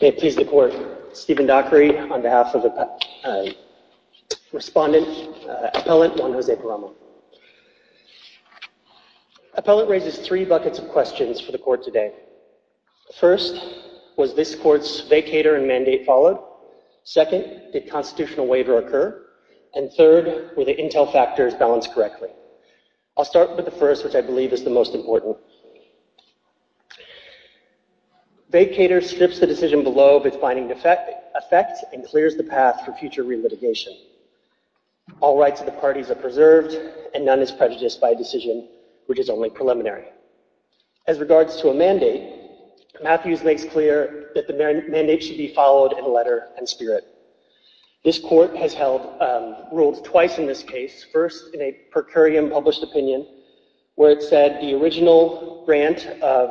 May it please the Court, Stephen Dockery on behalf of the Respondent Appellant Juan José Paramo. Appellant raises three buckets of questions for the Court today. First, was this Court's vacator and mandate followed? Second, did constitutional waiver occur? And third, were the intel factors balanced correctly? I'll start with the first, which I believe is the most important. Vacator strips the decision below of its binding effect and clears the path for future re-litigation. All rights of the parties are preserved and none is prejudiced by a decision which is only preliminary. As regards to a mandate, Matthews makes clear that the mandate should be followed in letter and spirit. This Court has ruled twice in this case, first in a per curiam published opinion where it said the original grant of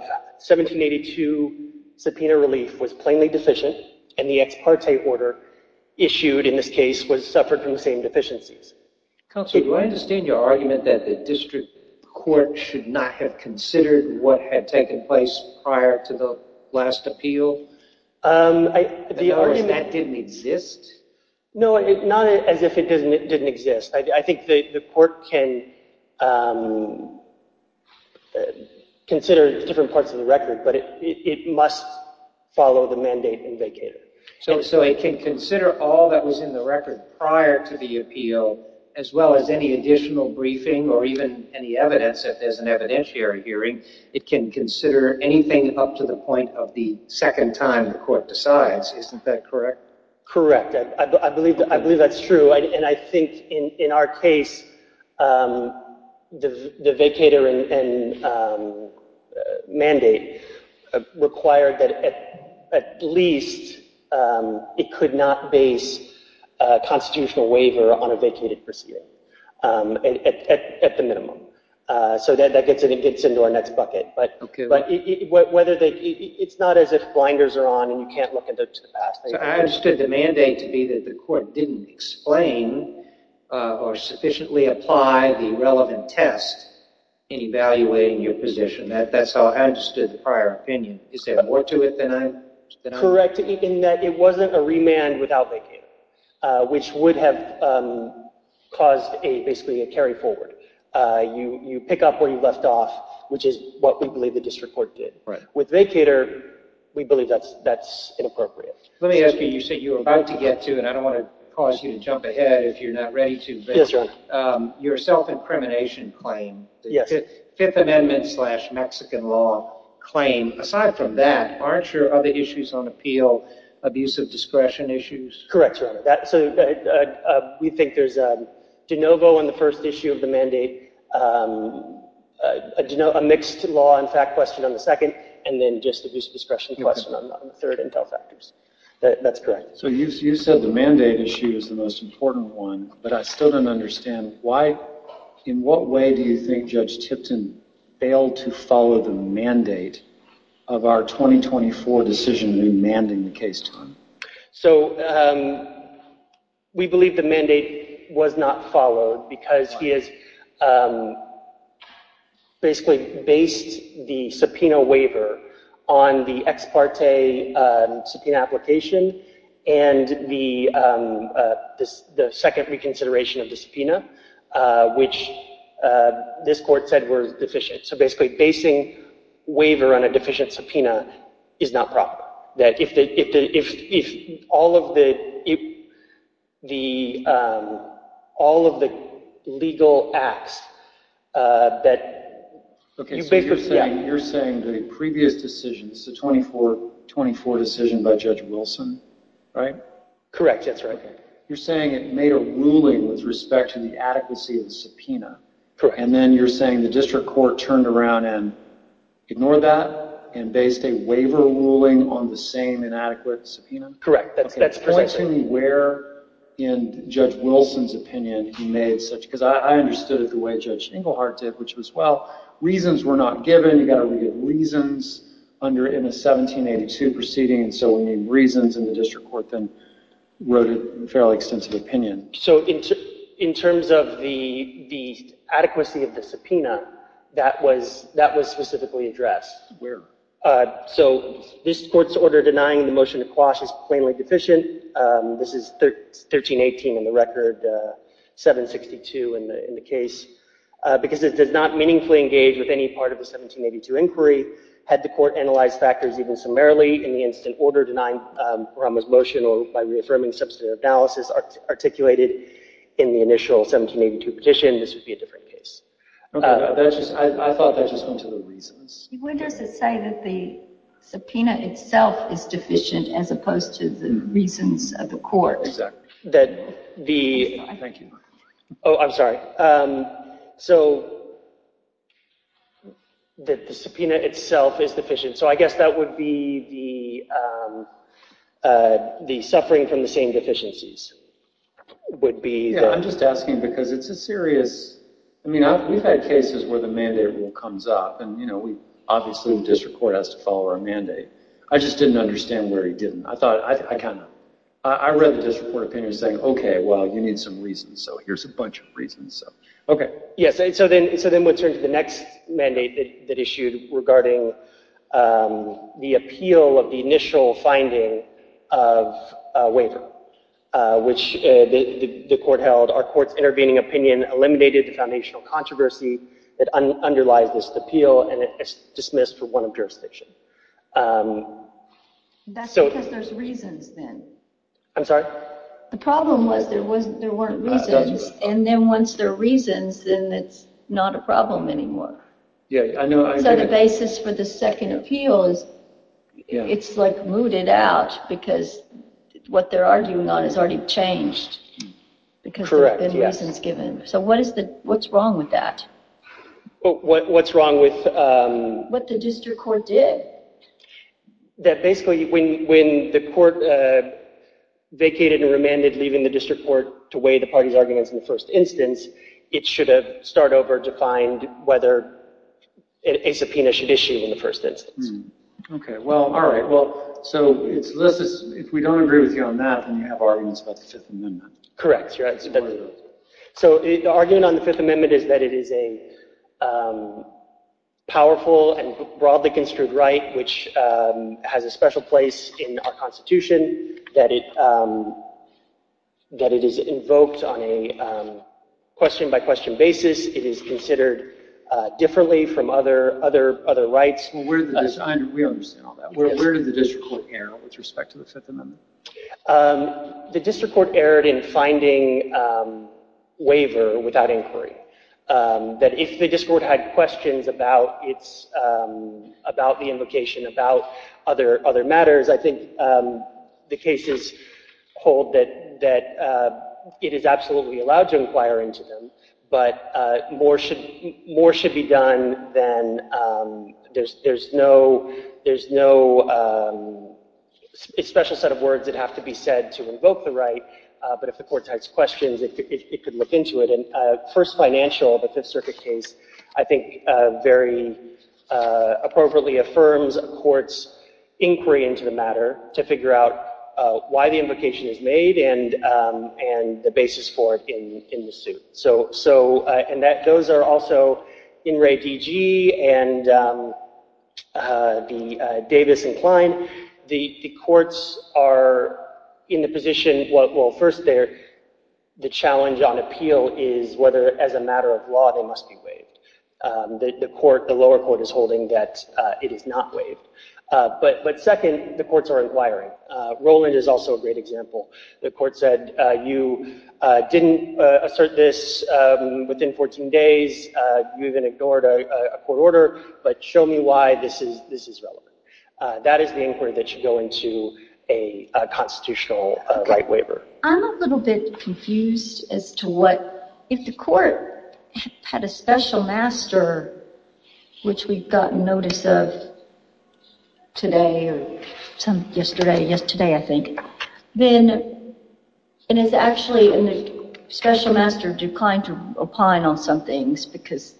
1782 subpoena relief was plainly deficient and the ex parte order issued in this case was suffered from the same deficiencies. Counselor, do I understand your argument that the District Court should not have considered what had taken place prior to the last appeal? That didn't exist? No, not as if it didn't exist. I think the Court can consider different parts of the record, but it must follow the mandate in vacator. So it can consider all that was in the record prior to the appeal as well as any additional briefing or even any evidence if there's an evidentiary hearing, it can consider anything up to the point of the second time the Court decides, isn't that correct? Correct, I believe that's true and I think in our case the vacator and mandate required that at least it could not base a constitutional waiver on a vacated proceeding at the minimum. So that gets into our next bucket, but it's not as if blinders are on and you can't look at the past. I understood the mandate to be that the Court didn't explain or sufficiently apply the relevant test in evaluating your position. That's how I understood the prior opinion. Is there more to it than I? Correct, in that it wasn't a remand without vacator, which would have caused basically a carry forward. You pick up where you left off, which is what we believe the District Court did. With vacator, we believe that's inappropriate. Let me ask you, you said you were about to get to, and I don't want to cause you to jump ahead if you're not ready to, but your self-incrimination claim, the Fifth Amendment slash Mexican law claim, aside from that, aren't your other issues on appeal abusive discretion issues? Correct, Your Honor. We think there's a de novo on the first issue of the mandate, a mixed law and fact question on the second, and then just an abuse of discretion question on the third, intel factors. That's correct. So you said the mandate issue is the most important one, but I still don't understand, in what way do you think Judge Tipton failed to follow the mandate of our 2024 decision remanding the case to him? So we believe the mandate was not followed because he has basically based the subpoena waiver on the ex parte subpoena application and the second reconsideration of the subpoena, which this court said were deficient. So basically, basing waiver on a deficient subpoena is not proper. That if all of the legal acts that... Okay, so you're saying the previous decision, the 2024 decision by Judge Wilson, right? Correct, that's right. You're saying it made a ruling with respect to the adequacy of the subpoena. And then you're saying the district court turned around and ignored that and based a waiver ruling on the same inadequate subpoena? Correct, that's correct. Can you explain to me where in Judge Wilson's opinion he made such, because I understood it the way Judge Engelhardt did, which was, well, reasons were not given, you've got to look at reasons in a 1782 proceeding, and so we need reasons, and the district court then wrote a fairly extensive opinion. So in terms of the adequacy of the subpoena, that was specifically addressed. Where? So this court's order denying the motion to quash is plainly deficient. This is 1318 in the record, 762 in the case, because it does not meaningfully engage with any part of the 1782 inquiry. Had the court analyzed factors even summarily in the instant order denying Parama's motion or by reaffirming substantive analysis articulated in the initial 1782 petition, this would be a different case. Okay, I thought that just went to the reasons. When does it say that the subpoena itself is deficient as opposed to the reasons of the court? Oh, I'm sorry. So that the subpoena itself is deficient. So I guess that would be the suffering from the same deficiencies. Yeah, I'm just asking because it's a serious... I mean, we've had cases where the mandate rule comes up, and obviously the district court has to follow our mandate. I just didn't understand where he didn't. I read the district court opinion saying, okay, well, you need some reasons, so here's a bunch of reasons. Okay, yes, so then we'll turn to the next mandate that issued regarding the appeal of the initial finding of a waiver, which the court held our court's intervening opinion eliminated the foundational controversy that underlies this appeal and it is dismissed for one of jurisdiction. That's because there's reasons then. I'm sorry? The problem was there weren't reasons, and then once there are reasons, then it's not a problem anymore. Yeah, I know. So the basis for the second appeal is it's like mooted out because what they're arguing on has already changed. Correct, yes. Because there have been reasons given. So what's wrong with that? What's wrong with... What the district court did. That basically when the court vacated and remanded leaving the district court to weigh the party's arguments in the first instance, it should have started over to find whether a subpoena should issue in the first instance. Okay, well, all right. So if we don't agree with you on that, then you have arguments about the Fifth Amendment. Correct. So the argument on the Fifth Amendment is that it is a powerful and broadly construed right, which has a special place in our Constitution, that it is invoked on a question-by-question basis. It is considered differently from other rights. We understand all that. Where did the district court err with respect to the Fifth Amendment? The district court erred in finding waiver without inquiry. That if the district court had questions about the invocation, about other matters, I think the cases hold that it is absolutely allowed to inquire into them. But more should be done than... There's no special set of words that have to be said to invoke the right, but if the court has questions, it could look into it. First Financial, the Fifth Circuit case, I think very appropriately affirms a court's inquiry into the matter to figure out why the invocation is made and the basis for it in the suit. Those are also In Re DG and Davis and Kline. The courts are in the position... First, the challenge on appeal is whether as a matter of law they must be waived. The lower court is holding that it is not waived. But second, the courts are inquiring. Roland is also a great example. The court said you didn't assert this within 14 days. You even ignored a court order, but show me why this is relevant. That is the inquiry that should go into a constitutional right waiver. I'm a little bit confused as to what... If the court had a special master, which we've gotten notice of today or yesterday, I think, then it is actually a special master declined to opine on some things because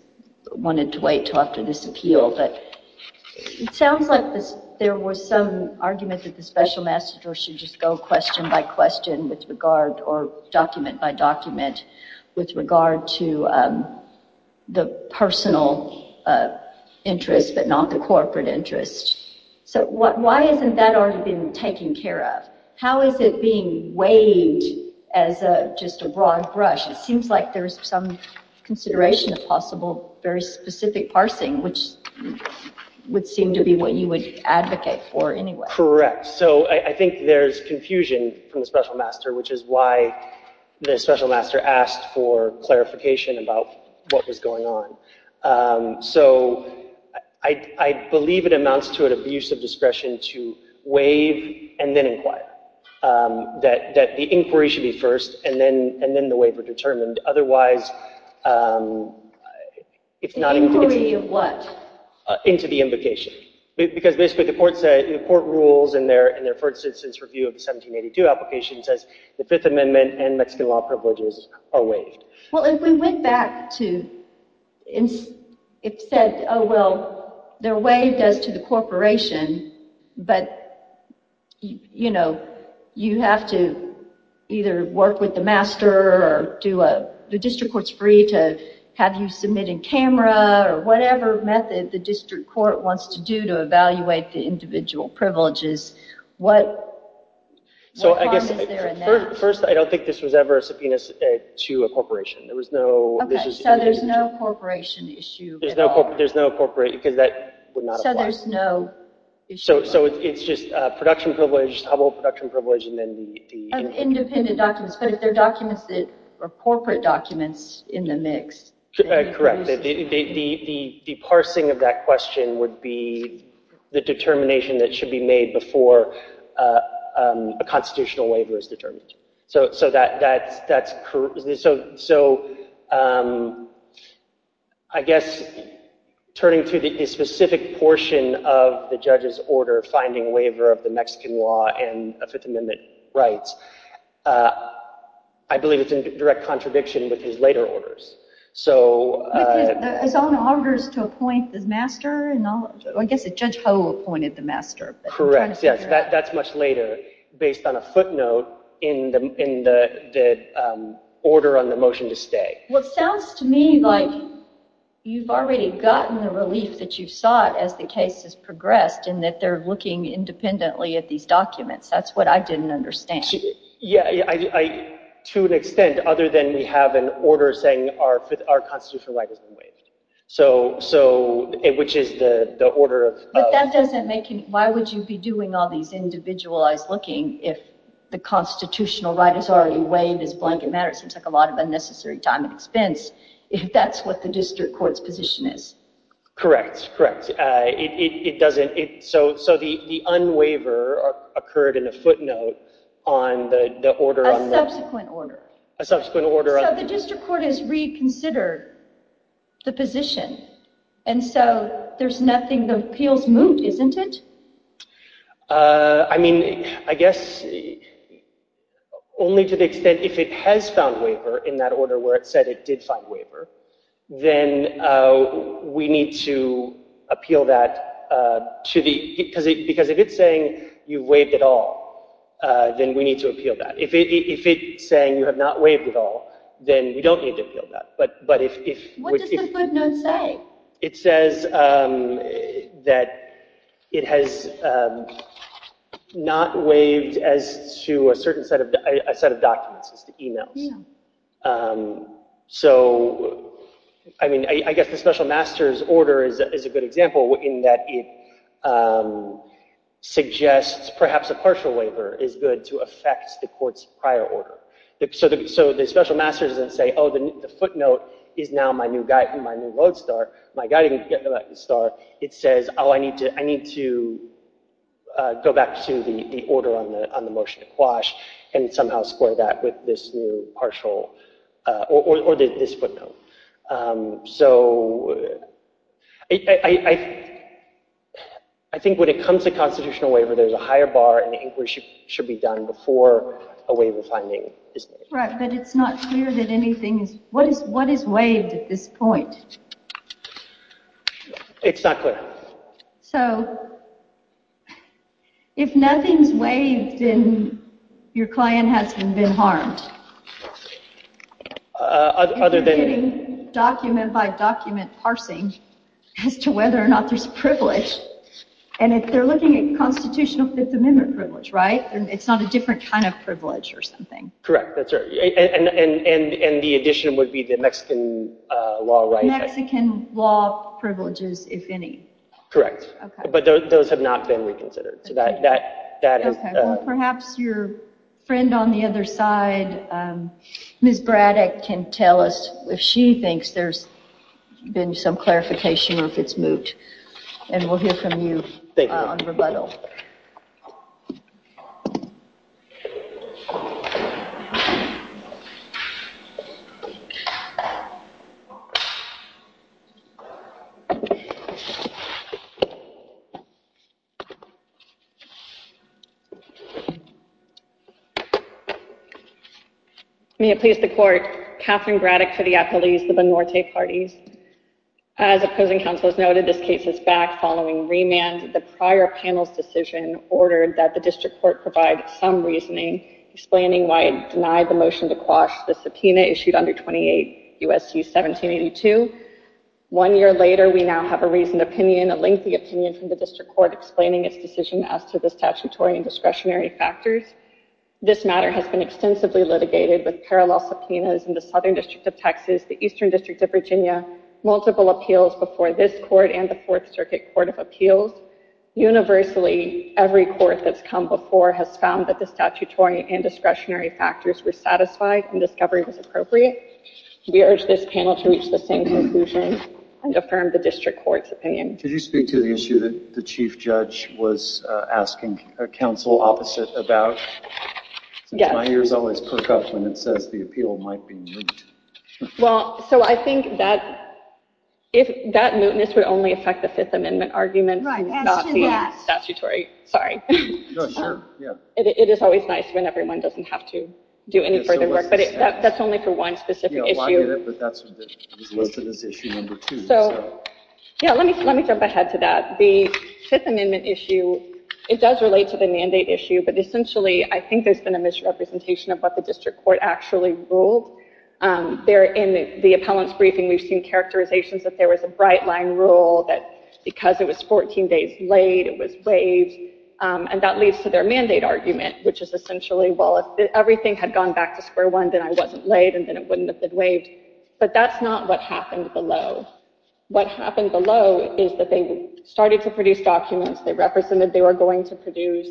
it wanted to wait until after this appeal. It sounds like there was some argument that the special master should just go question by question with regard or document by document with regard to the personal interest but not the corporate interest. Why hasn't that already been taken care of? How is it being waived as just a broad brush? It seems like there's some consideration of possible very specific parsing, which would seem to be what you would advocate for anyway. I think there's confusion from the special master, which is why the special master asked for clarification about what was going on. I believe it amounts to an abuse of discretion to waive and then inquire. That the inquiry should be first and then the waiver determined. The inquiry of what? Into the invocation. Because basically the court rules in their first instance review of the 1782 application says the Fifth Amendment and Mexican law privileges are waived. Well, if we went back and said, oh well, they're waived as to the corporation, but you have to either work with the master or the district court's free to have you submit in camera or whatever method the district court wants to do to evaluate the individual privileges, what harm is there in that? First, I don't think this was ever a subpoena to a corporation. So there's no corporation issue at all? There's no corporation, because that would not apply. So there's no issue at all? So it's just production privilege, humble production privilege, and then the... Independent documents, but if they're documents that are corporate documents in the mix... The parsing of that question would be the determination that should be made before a constitutional waiver is determined. So I guess turning to the specific portion of the judge's order finding waiver of the Mexican law and Fifth Amendment rights, I believe it's in direct contradiction with his later orders. But his own orders to appoint the master, I guess Judge Ho appointed the master. Correct, yes, that's much later based on a footnote in the order on the motion to stay. Well, it sounds to me like you've already gotten the relief that you sought as the case has progressed in that they're looking independently at these documents. That's what I didn't understand. To an extent, other than we have an order saying our constitutional right has been waived, which is the order of... But that doesn't make any... Why would you be doing all these individualized looking if the constitutional right is already waived as blanket matter? It seems like a lot of unnecessary time and expense, if that's what the district court's position is. Correct, correct. It doesn't... So the unwaiver occurred in a footnote on the order on the... A subsequent order. A subsequent order. So the district court has reconsidered the position, and so there's nothing... The appeal's moot, isn't it? I mean, I guess only to the extent if it has found waiver in that order where it said it did find waiver, then we need to appeal that to the... Because if it's saying you've waived it all, then we need to appeal that. If it's saying you have not waived it all, then we don't need to appeal that. But if... What does the footnote say? It says that it has not waived as to a certain set of documents, as to emails. So, I mean, I guess the special master's order is a good example in that it suggests perhaps a partial waiver is good to affect the court's prior order. So the special master's doesn't say, oh, the footnote is now my new guide, my new road star, my guiding star. It says, oh, I need to go back to the order on the motion to quash and somehow square that with this new partial... Or this footnote. So, I think when it comes to constitutional waiver, there's a higher bar and inquiry should be done before a waiver finding is made. Right, but it's not clear that anything is... What is waived at this point? It's not clear. So, if nothing's waived, then your client hasn't been harmed? Other than... If you're getting document by document parsing as to whether or not there's privilege. And if they're looking at constitutional Fifth Amendment privilege, right? It's not a different kind of privilege or something. Correct, that's right. And the addition would be the Mexican law right? Mexican law privileges, if any. Correct. But those have not been reconsidered. Perhaps your friend on the other side, Ms. Braddock, can tell us if she thinks there's been some clarification or if it's moved. And we'll hear from you on rebuttal. May it please the court. Catherine Braddock for the Appellees, the Benorte Parties. As opposing counsel has noted, this case is back following remand. The prior panel's decision ordered that the district court provide some reasoning explaining why it denied the motion to quash the subpoena issued under 28 U.S.C. 1782. One year later, we now have a reasoned opinion, a lengthy opinion from the district court explaining its decision as to why it denied the motion to quash the subpoena. This matter has been extensively litigated with parallel subpoenas in the Southern District of Texas, the Eastern District of Virginia, multiple appeals before this court and the Fourth Circuit Court of Appeals. Universally, every court that's come before has found that the statutory and discretionary factors were satisfied and discovery was appropriate. We urge this panel to reach the same conclusion and affirm the district court's opinion. Could you speak to the issue that the chief judge was asking counsel opposite about? Yes. My ears always perk up when it says the appeal might be moot. Well, so I think that mootness would only affect the Fifth Amendment argument and not the statutory. No, sure. Yeah. It is always nice when everyone doesn't have to do any further work, but that's only for one specific issue. Yeah, well, I get it, but that's what was listed as issue number two. So, yeah, let me jump ahead to that. The Fifth Amendment issue, it does relate to the mandate issue, but essentially, I think there's been a misrepresentation of what the district court actually ruled. There in the appellant's briefing, we've seen characterizations that there was a bright line rule that because it was 14 days late, it was waived. And that leads to their mandate argument, which is essentially, well, if everything had gone back to square one, then I wasn't late and then it wouldn't have been waived. But that's not what happened below. What happened below is that they started to produce documents. They represented they were going to produce.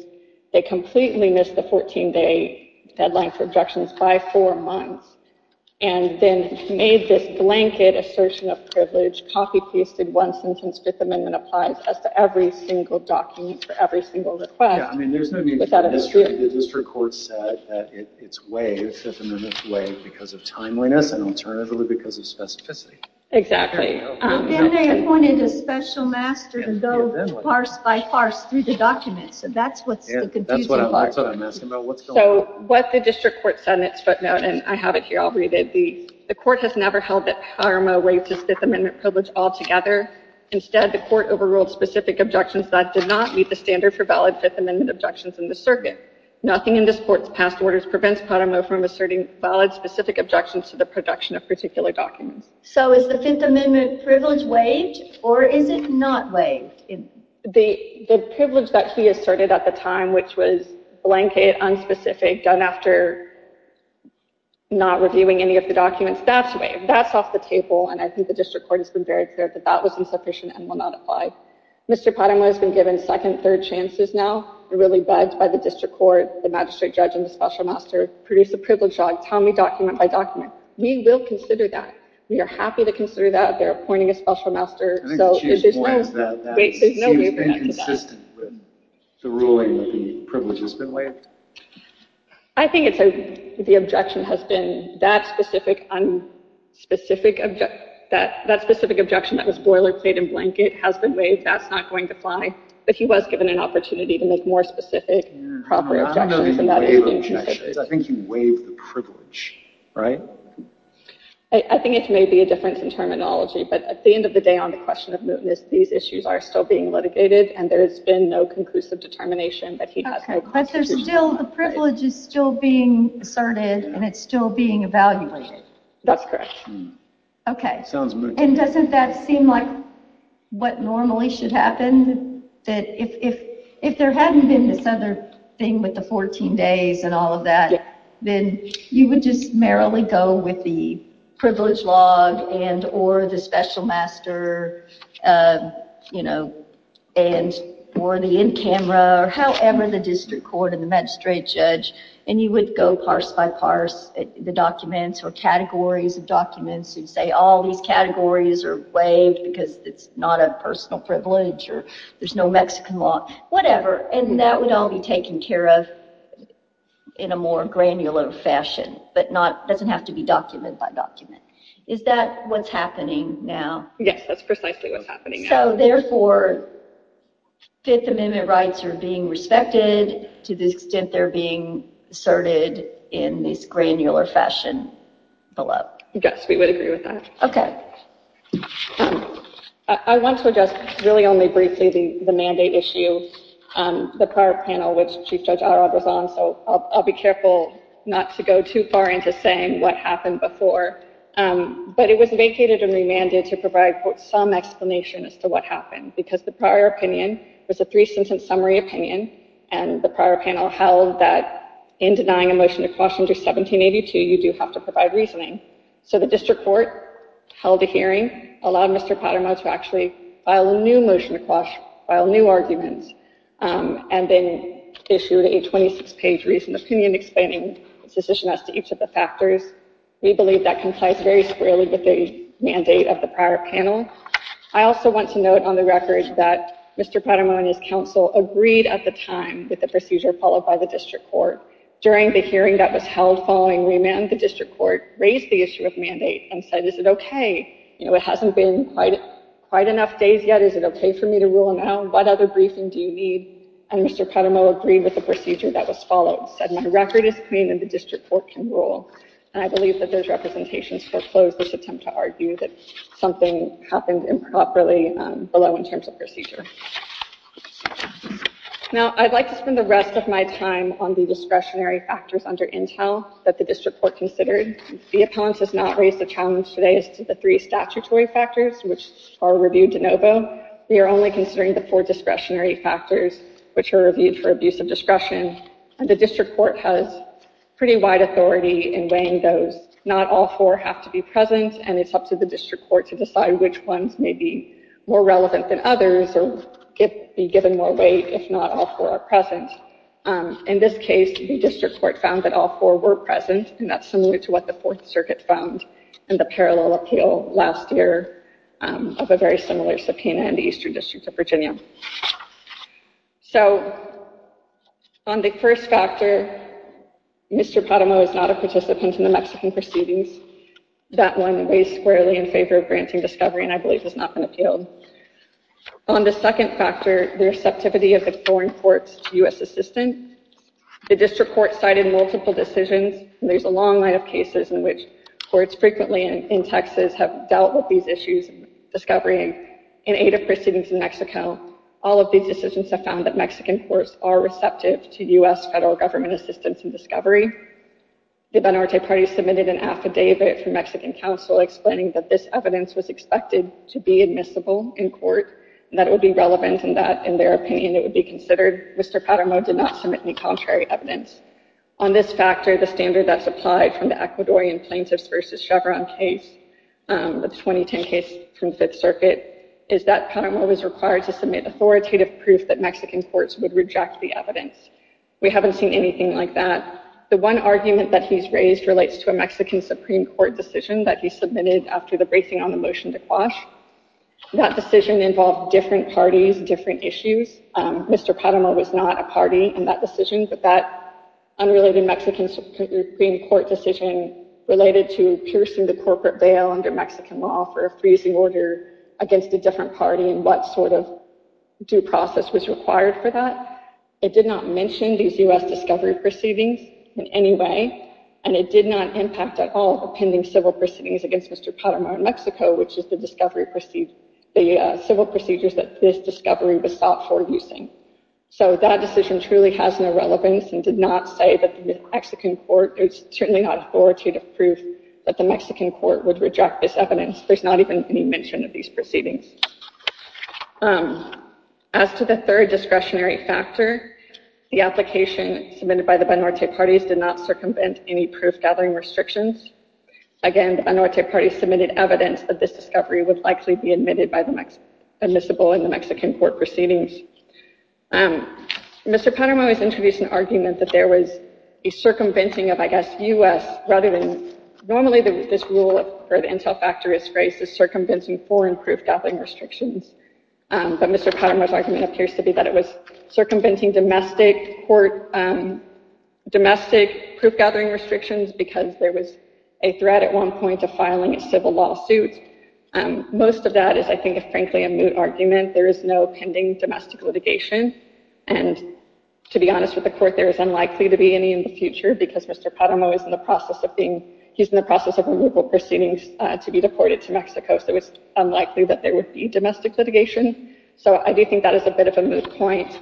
They completely missed the 14-day deadline for objections by four months and then made this blanket assertion of privilege, copy-pasted one sentence Fifth Amendment applies as to every single document for every single request. Yeah, I mean, there's no need for history. The district court said that it's waived, Fifth Amendment's waived because of timeliness and alternatively because of specificity. And they appointed a special master to go parse by parse through the documents. And that's what's the confusing part. That's what I'm asking about. What's going on? So, what the district court said in its footnote, and I have it here. I'll read it. The court has never held that Pyramo waived his Fifth Amendment privilege altogether. Instead, the court overruled specific objections that did not meet the standard for valid Fifth Amendment objections in the circuit. Nothing in this court's past orders prevents Pyramo from asserting valid, specific objections to the production of particular documents. So, is the Fifth Amendment privilege waived or is it not waived? The privilege that he asserted at the time, which was blanket, unspecific, done after not reviewing any of the documents, that's waived. That's off the table, and I think the district court has been very clear that that was insufficient and will not apply. Mr. Pyramo has been given second, third chances now. He really begged by the district court, the magistrate judge, and the special master, produce a privilege on, tell me document by document. We will consider that. We are happy to consider that. They're appointing a special master. So, if there's no— I think the chief's point is that that seems inconsistent with the ruling that the privilege has been waived. I think the objection has been that specific objection that was boilerplate and blanket has been waived. That's not going to apply. But he was given an opportunity to make more specific, proper objections, and that is inconsistent. I think you waive the privilege, right? I think it may be a difference in terminology, but at the end of the day on the question of mootness, these issues are still being litigated, and there has been no conclusive determination that he has no— But there's still—the privilege is still being asserted, and it's still being evaluated. That's correct. Okay. And doesn't that seem like what normally should happen? If there hadn't been this other thing with the 14 days and all of that, then you would just merrily go with the privilege log and or the special master and or the in camera or however the district court and the magistrate judge, and you would go parse by parse the documents or categories of documents and say all these categories are waived because it's not a personal privilege or there's no Mexican law. Whatever. And that would all be taken care of in a more granular fashion, but doesn't have to be document by document. Is that what's happening now? Yes, that's precisely what's happening now. So therefore, Fifth Amendment rights are being respected to the extent they're being asserted in this granular fashion. Yes, we would agree with that. I want to address really only briefly the mandate issue. The prior panel, which Chief Judge Arad was on, so I'll be careful not to go too far into saying what happened before. But it was vacated and remanded to provide some explanation as to what happened because the prior opinion was a three-sentence summary opinion. And the prior panel held that in denying a motion to quash under 1782, you do have to provide reasoning. So the district court held a hearing, allowed Mr. Patamon to actually file a new motion to quash, file new arguments, and then issued a 26-page reasoned opinion explaining its decision as to each of the factors. We believe that complies very squarely with the mandate of the prior panel. I also want to note on the record that Mr. Patamon and his counsel agreed at the time with the procedure followed by the district court. During the hearing that was held following remand, the district court raised the issue of mandate and said, is it okay? You know, it hasn't been quite enough days yet, is it okay for me to rule now? What other briefing do you need? And Mr. Patamon agreed with the procedure that was followed, said my record is clean and the district court can rule. And I believe that those representations foreclose this attempt to argue that something happened improperly below in terms of procedure. Now, I'd like to spend the rest of my time on the discretionary factors under Intel that the district court considered. The appellant has not raised the challenge today as to the three statutory factors, which are reviewed de novo. They are only considering the four discretionary factors, which are reviewed for abuse of discretion. And the district court has pretty wide authority in weighing those. Not all four have to be present, and it's up to the district court to decide which ones may be more relevant than others or be given more weight if not all four are present. In this case, the district court found that all four were present, and that's similar to what the Fourth Circuit found in the parallel appeal last year of a very similar subpoena in the Eastern District of Virginia. So, on the first factor, Mr. Patamon is not a participant in the Mexican proceedings. That one weighs squarely in favor of granting discovery and I believe has not been appealed. On the second factor, the receptivity of the foreign courts to U.S. assistance, the district court cited multiple decisions. There's a long line of cases in which courts frequently in Texas have dealt with these issues of discovery in aid of proceedings in Mexico. All of these decisions have found that Mexican courts are receptive to U.S. federal government assistance in discovery. The Banorte Party submitted an affidavit from Mexican counsel explaining that this evidence was expected to be admissible in court and that it would be relevant and that, in their opinion, it would be considered. Mr. Patamon did not submit any contrary evidence. On this factor, the standard that's applied from the Ecuadorian plaintiffs versus Chevron case, the 2010 case from Fifth Circuit, is that Patamon was required to submit authoritative proof that Mexican courts would reject the evidence. We haven't seen anything like that. The one argument that he's raised relates to a Mexican Supreme Court decision that he submitted after the bracing on the motion to quash. That decision involved different parties, different issues. Mr. Patamon was not a party in that decision, but that unrelated Mexican Supreme Court decision related to piercing the corporate veil under Mexican law for a freezing order against a different party and what sort of due process was required for that. It did not mention these U.S. discovery proceedings in any way, and it did not impact at all the pending civil proceedings against Mr. Patamon in Mexico, which is the civil procedures that this discovery was sought for using. So that decision truly has no relevance and did not say that the Mexican court, there's certainly not authoritative proof that the Mexican court would reject this evidence. There's not even any mention of these proceedings. As to the third discretionary factor, the application submitted by the Banorte parties did not circumvent any proof-gathering restrictions. Again, the Banorte parties submitted evidence that this discovery would likely be admissible in the Mexican court proceedings. Mr. Patamon has introduced an argument that there was a circumventing of, I guess, U.S., rather than, normally this rule for the intel factor is phrased as circumventing foreign proof-gathering restrictions. But Mr. Patamon's argument appears to be that it was circumventing domestic court, domestic proof-gathering restrictions because there was a threat at one point to filing a civil lawsuit. Most of that is, I think, frankly a moot argument. There is no pending domestic litigation. And to be honest with the court, there is unlikely to be any in the future because Mr. Patamon is in the process of being, he's in the process of removal proceedings to be deported to Mexico. So it's unlikely that there would be domestic litigation. So I do think that is a bit of a moot point.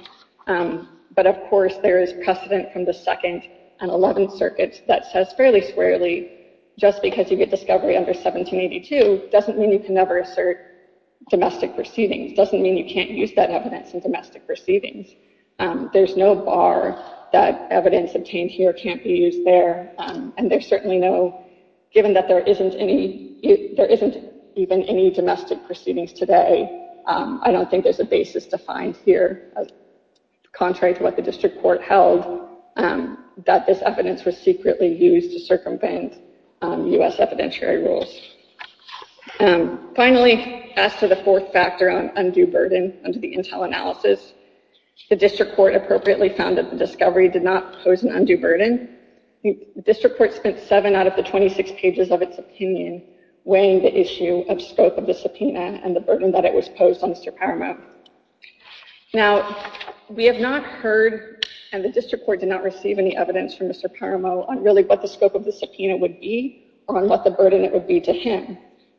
But of course, there is precedent from the Second and Eleventh Circuits that says fairly squarely, just because you get discovery under 1782 doesn't mean you can never assert domestic proceedings. Doesn't mean you can't use that evidence in domestic proceedings. There's no bar that evidence obtained here can't be used there. And there's certainly no, given that there isn't any, there isn't even any domestic proceedings today. I don't think there's a basis defined here. Contrary to what the district court held, that this evidence was secretly used to circumvent U.S. evidentiary rules. Finally, as to the fourth factor on undue burden under the Intel analysis, the district court appropriately found that the discovery did not pose an undue burden. The district court spent seven out of the 26 pages of its opinion weighing the issue of scope of the subpoena and the burden that it was posed on Mr. Paramo. Now, we have not heard, and the district court did not receive any evidence from Mr. Paramo on really what the scope of the subpoena would be or on what the burden it would be to him.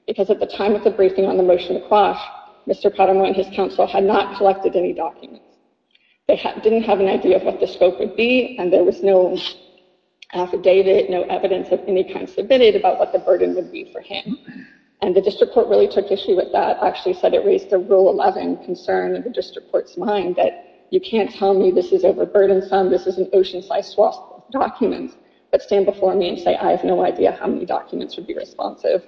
Because at the time of the briefing on the motion to quash, Mr. Paramo and his counsel had not collected any documents. They didn't have an idea of what the scope would be. And there was no affidavit, no evidence of any kind submitted about what the burden would be for him. And the district court really took issue with that. Actually said it raised the rule 11 concern of the district court's mind, that you can't tell me this is overburdensome, this is an ocean-sized swath of documents. But stand before me and say, I have no idea how many documents would be responsive.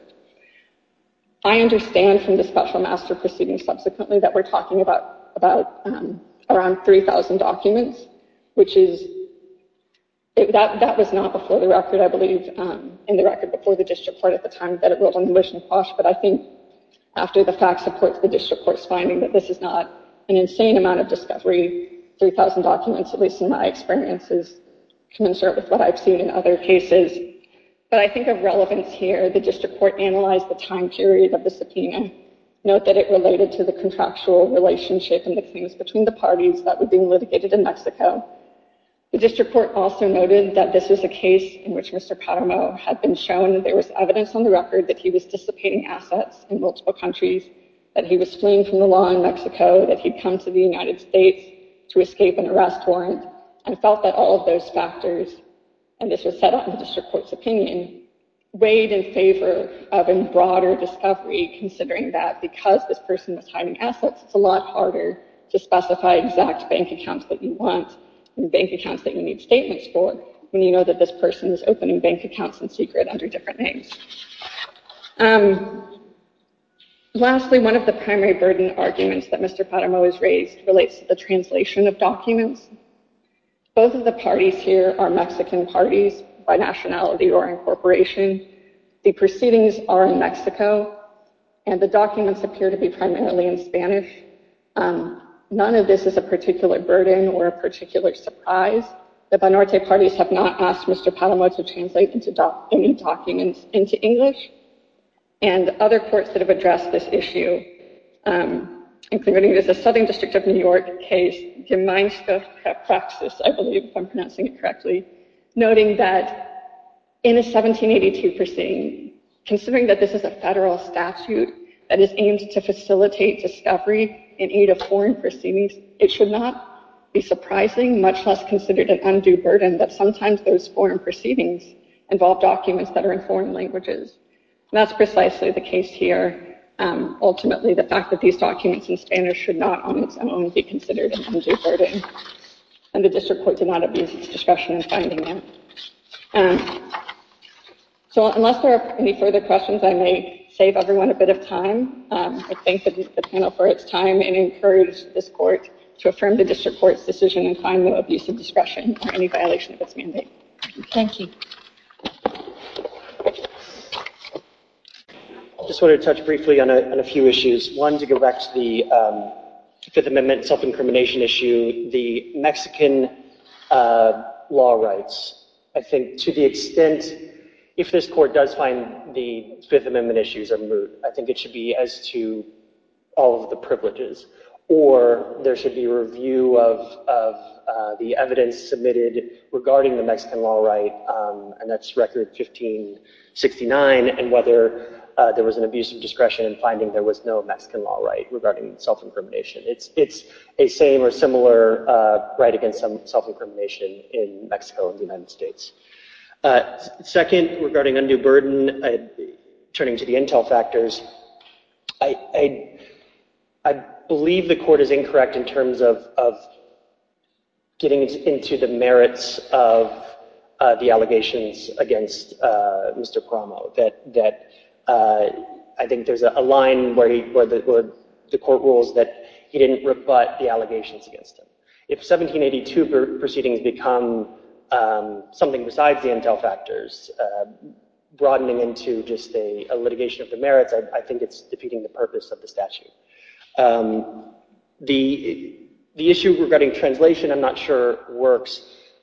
I understand from the special master proceeding subsequently that we're talking about around 3,000 documents, which is, that was not before the record, I believe, in the record before the district court at the time that it was on the motion to quash. But I think after the fact supports the district court's finding that this is not an insane amount of discovery, 3,000 documents, at least in my experience, is commensurate with what I've seen in other cases. But I think of relevance here. The district court analyzed the time period of the subpoena. Note that it related to the contractual relationship and the claims between the parties that were being litigated in Mexico. The district court also noted that this was a case in which Mr. Paterno had been shown that there was evidence on the record that he was dissipating assets in multiple countries, that he was fleeing from the law in Mexico, that he'd come to the United States to escape an arrest warrant, and felt that all of those factors. And this was set up in the district court's opinion, weighed in favor of a broader discovery, considering that because this person was hiding assets, it's a lot harder to specify exact bank accounts that you want and bank accounts that you need statements for when you know that this person is opening bank accounts in secret under different names. Lastly, one of the primary burden arguments that Mr. Paterno has raised relates to the translation of documents. Both of the parties here are Mexican parties by nationality or incorporation. The proceedings are in Mexico, and the documents appear to be primarily in Spanish. None of this is a particular burden or a particular surprise. The Binorte parties have not asked Mr. Paterno to translate any documents into English. And other courts that have addressed this issue, including the Southern District of New York case, Gimaynska Praxis, I believe if I'm pronouncing it correctly, noting that in a 1782 proceeding, considering that this is a federal statute that is aimed to facilitate discovery in aid of foreign proceedings, it should not be surprising, much less considered an undue burden, that sometimes those foreign proceedings involve documents that are in foreign languages. And that's precisely the case here. Ultimately, the fact that these documents in Spanish should not on its own be considered an undue burden. And the district court did not abuse its discretion in finding them. So unless there are any further questions, I may save everyone a bit of time. I thank the panel for its time and encourage this court to affirm the district court's decision and find no abuse of discretion or any violation of its mandate. Thank you. I just wanted to touch briefly on a few issues. One, to go back to the Fifth Amendment self-incrimination issue, the Mexican law rights. I think to the extent, if this court does find the Fifth Amendment issues are moot, I think it should be as to all of the privileges. Or there should be review of the evidence submitted regarding the Mexican law right, and that's Record 1569, and whether there was an abuse of discretion in finding there was no Mexican law right regarding self-incrimination. It's a same or similar right against self-incrimination in Mexico and the United States. Second, regarding undue burden, turning to the intel factors, I believe the court is incorrect in terms of getting into the merits of the allegations against Mr. Promo. I think there's a line where the court rules that he didn't rebut the allegations against him. If 1782 proceedings become something besides the intel factors, broadening into just a litigation of the merits, I think it's defeating the purpose of the statute. The issue regarding translation I'm not sure works,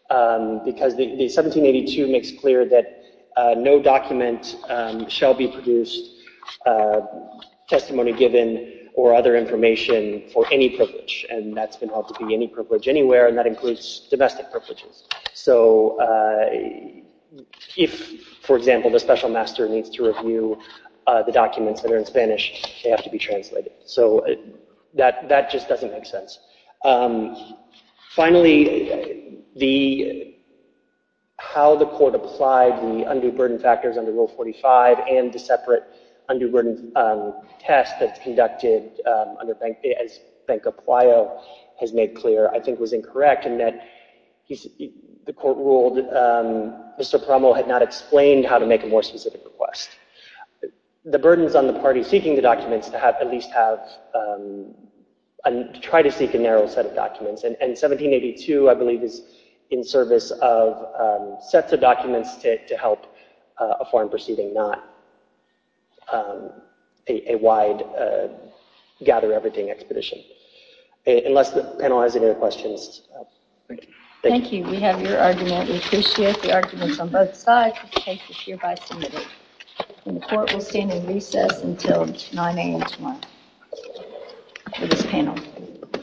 because 1782 makes clear that no document shall be produced, testimony given, or other information for any privilege. And that's been held to be any privilege anywhere, and that includes domestic privileges. So if, for example, the special master needs to review the documents that are in Spanish, they have to be translated. So that just doesn't make sense. Finally, how the court applied the undue burden factors under Rule 45 and the separate undue burden test that's conducted as Banco Pueyo has made clear I think was incorrect in that the court ruled Mr. Promo had not explained how to make a more specific request. The burden is on the party seeking the documents to at least try to seek a narrow set of documents. And 1782, I believe, is in service of sets of documents to help a foreign proceeding, not a wide gather-everything expedition. Unless the panel has any other questions. Thank you. We have your argument. We appreciate the arguments on both sides. The court will stand in recess until 9 a.m. tomorrow for this panel.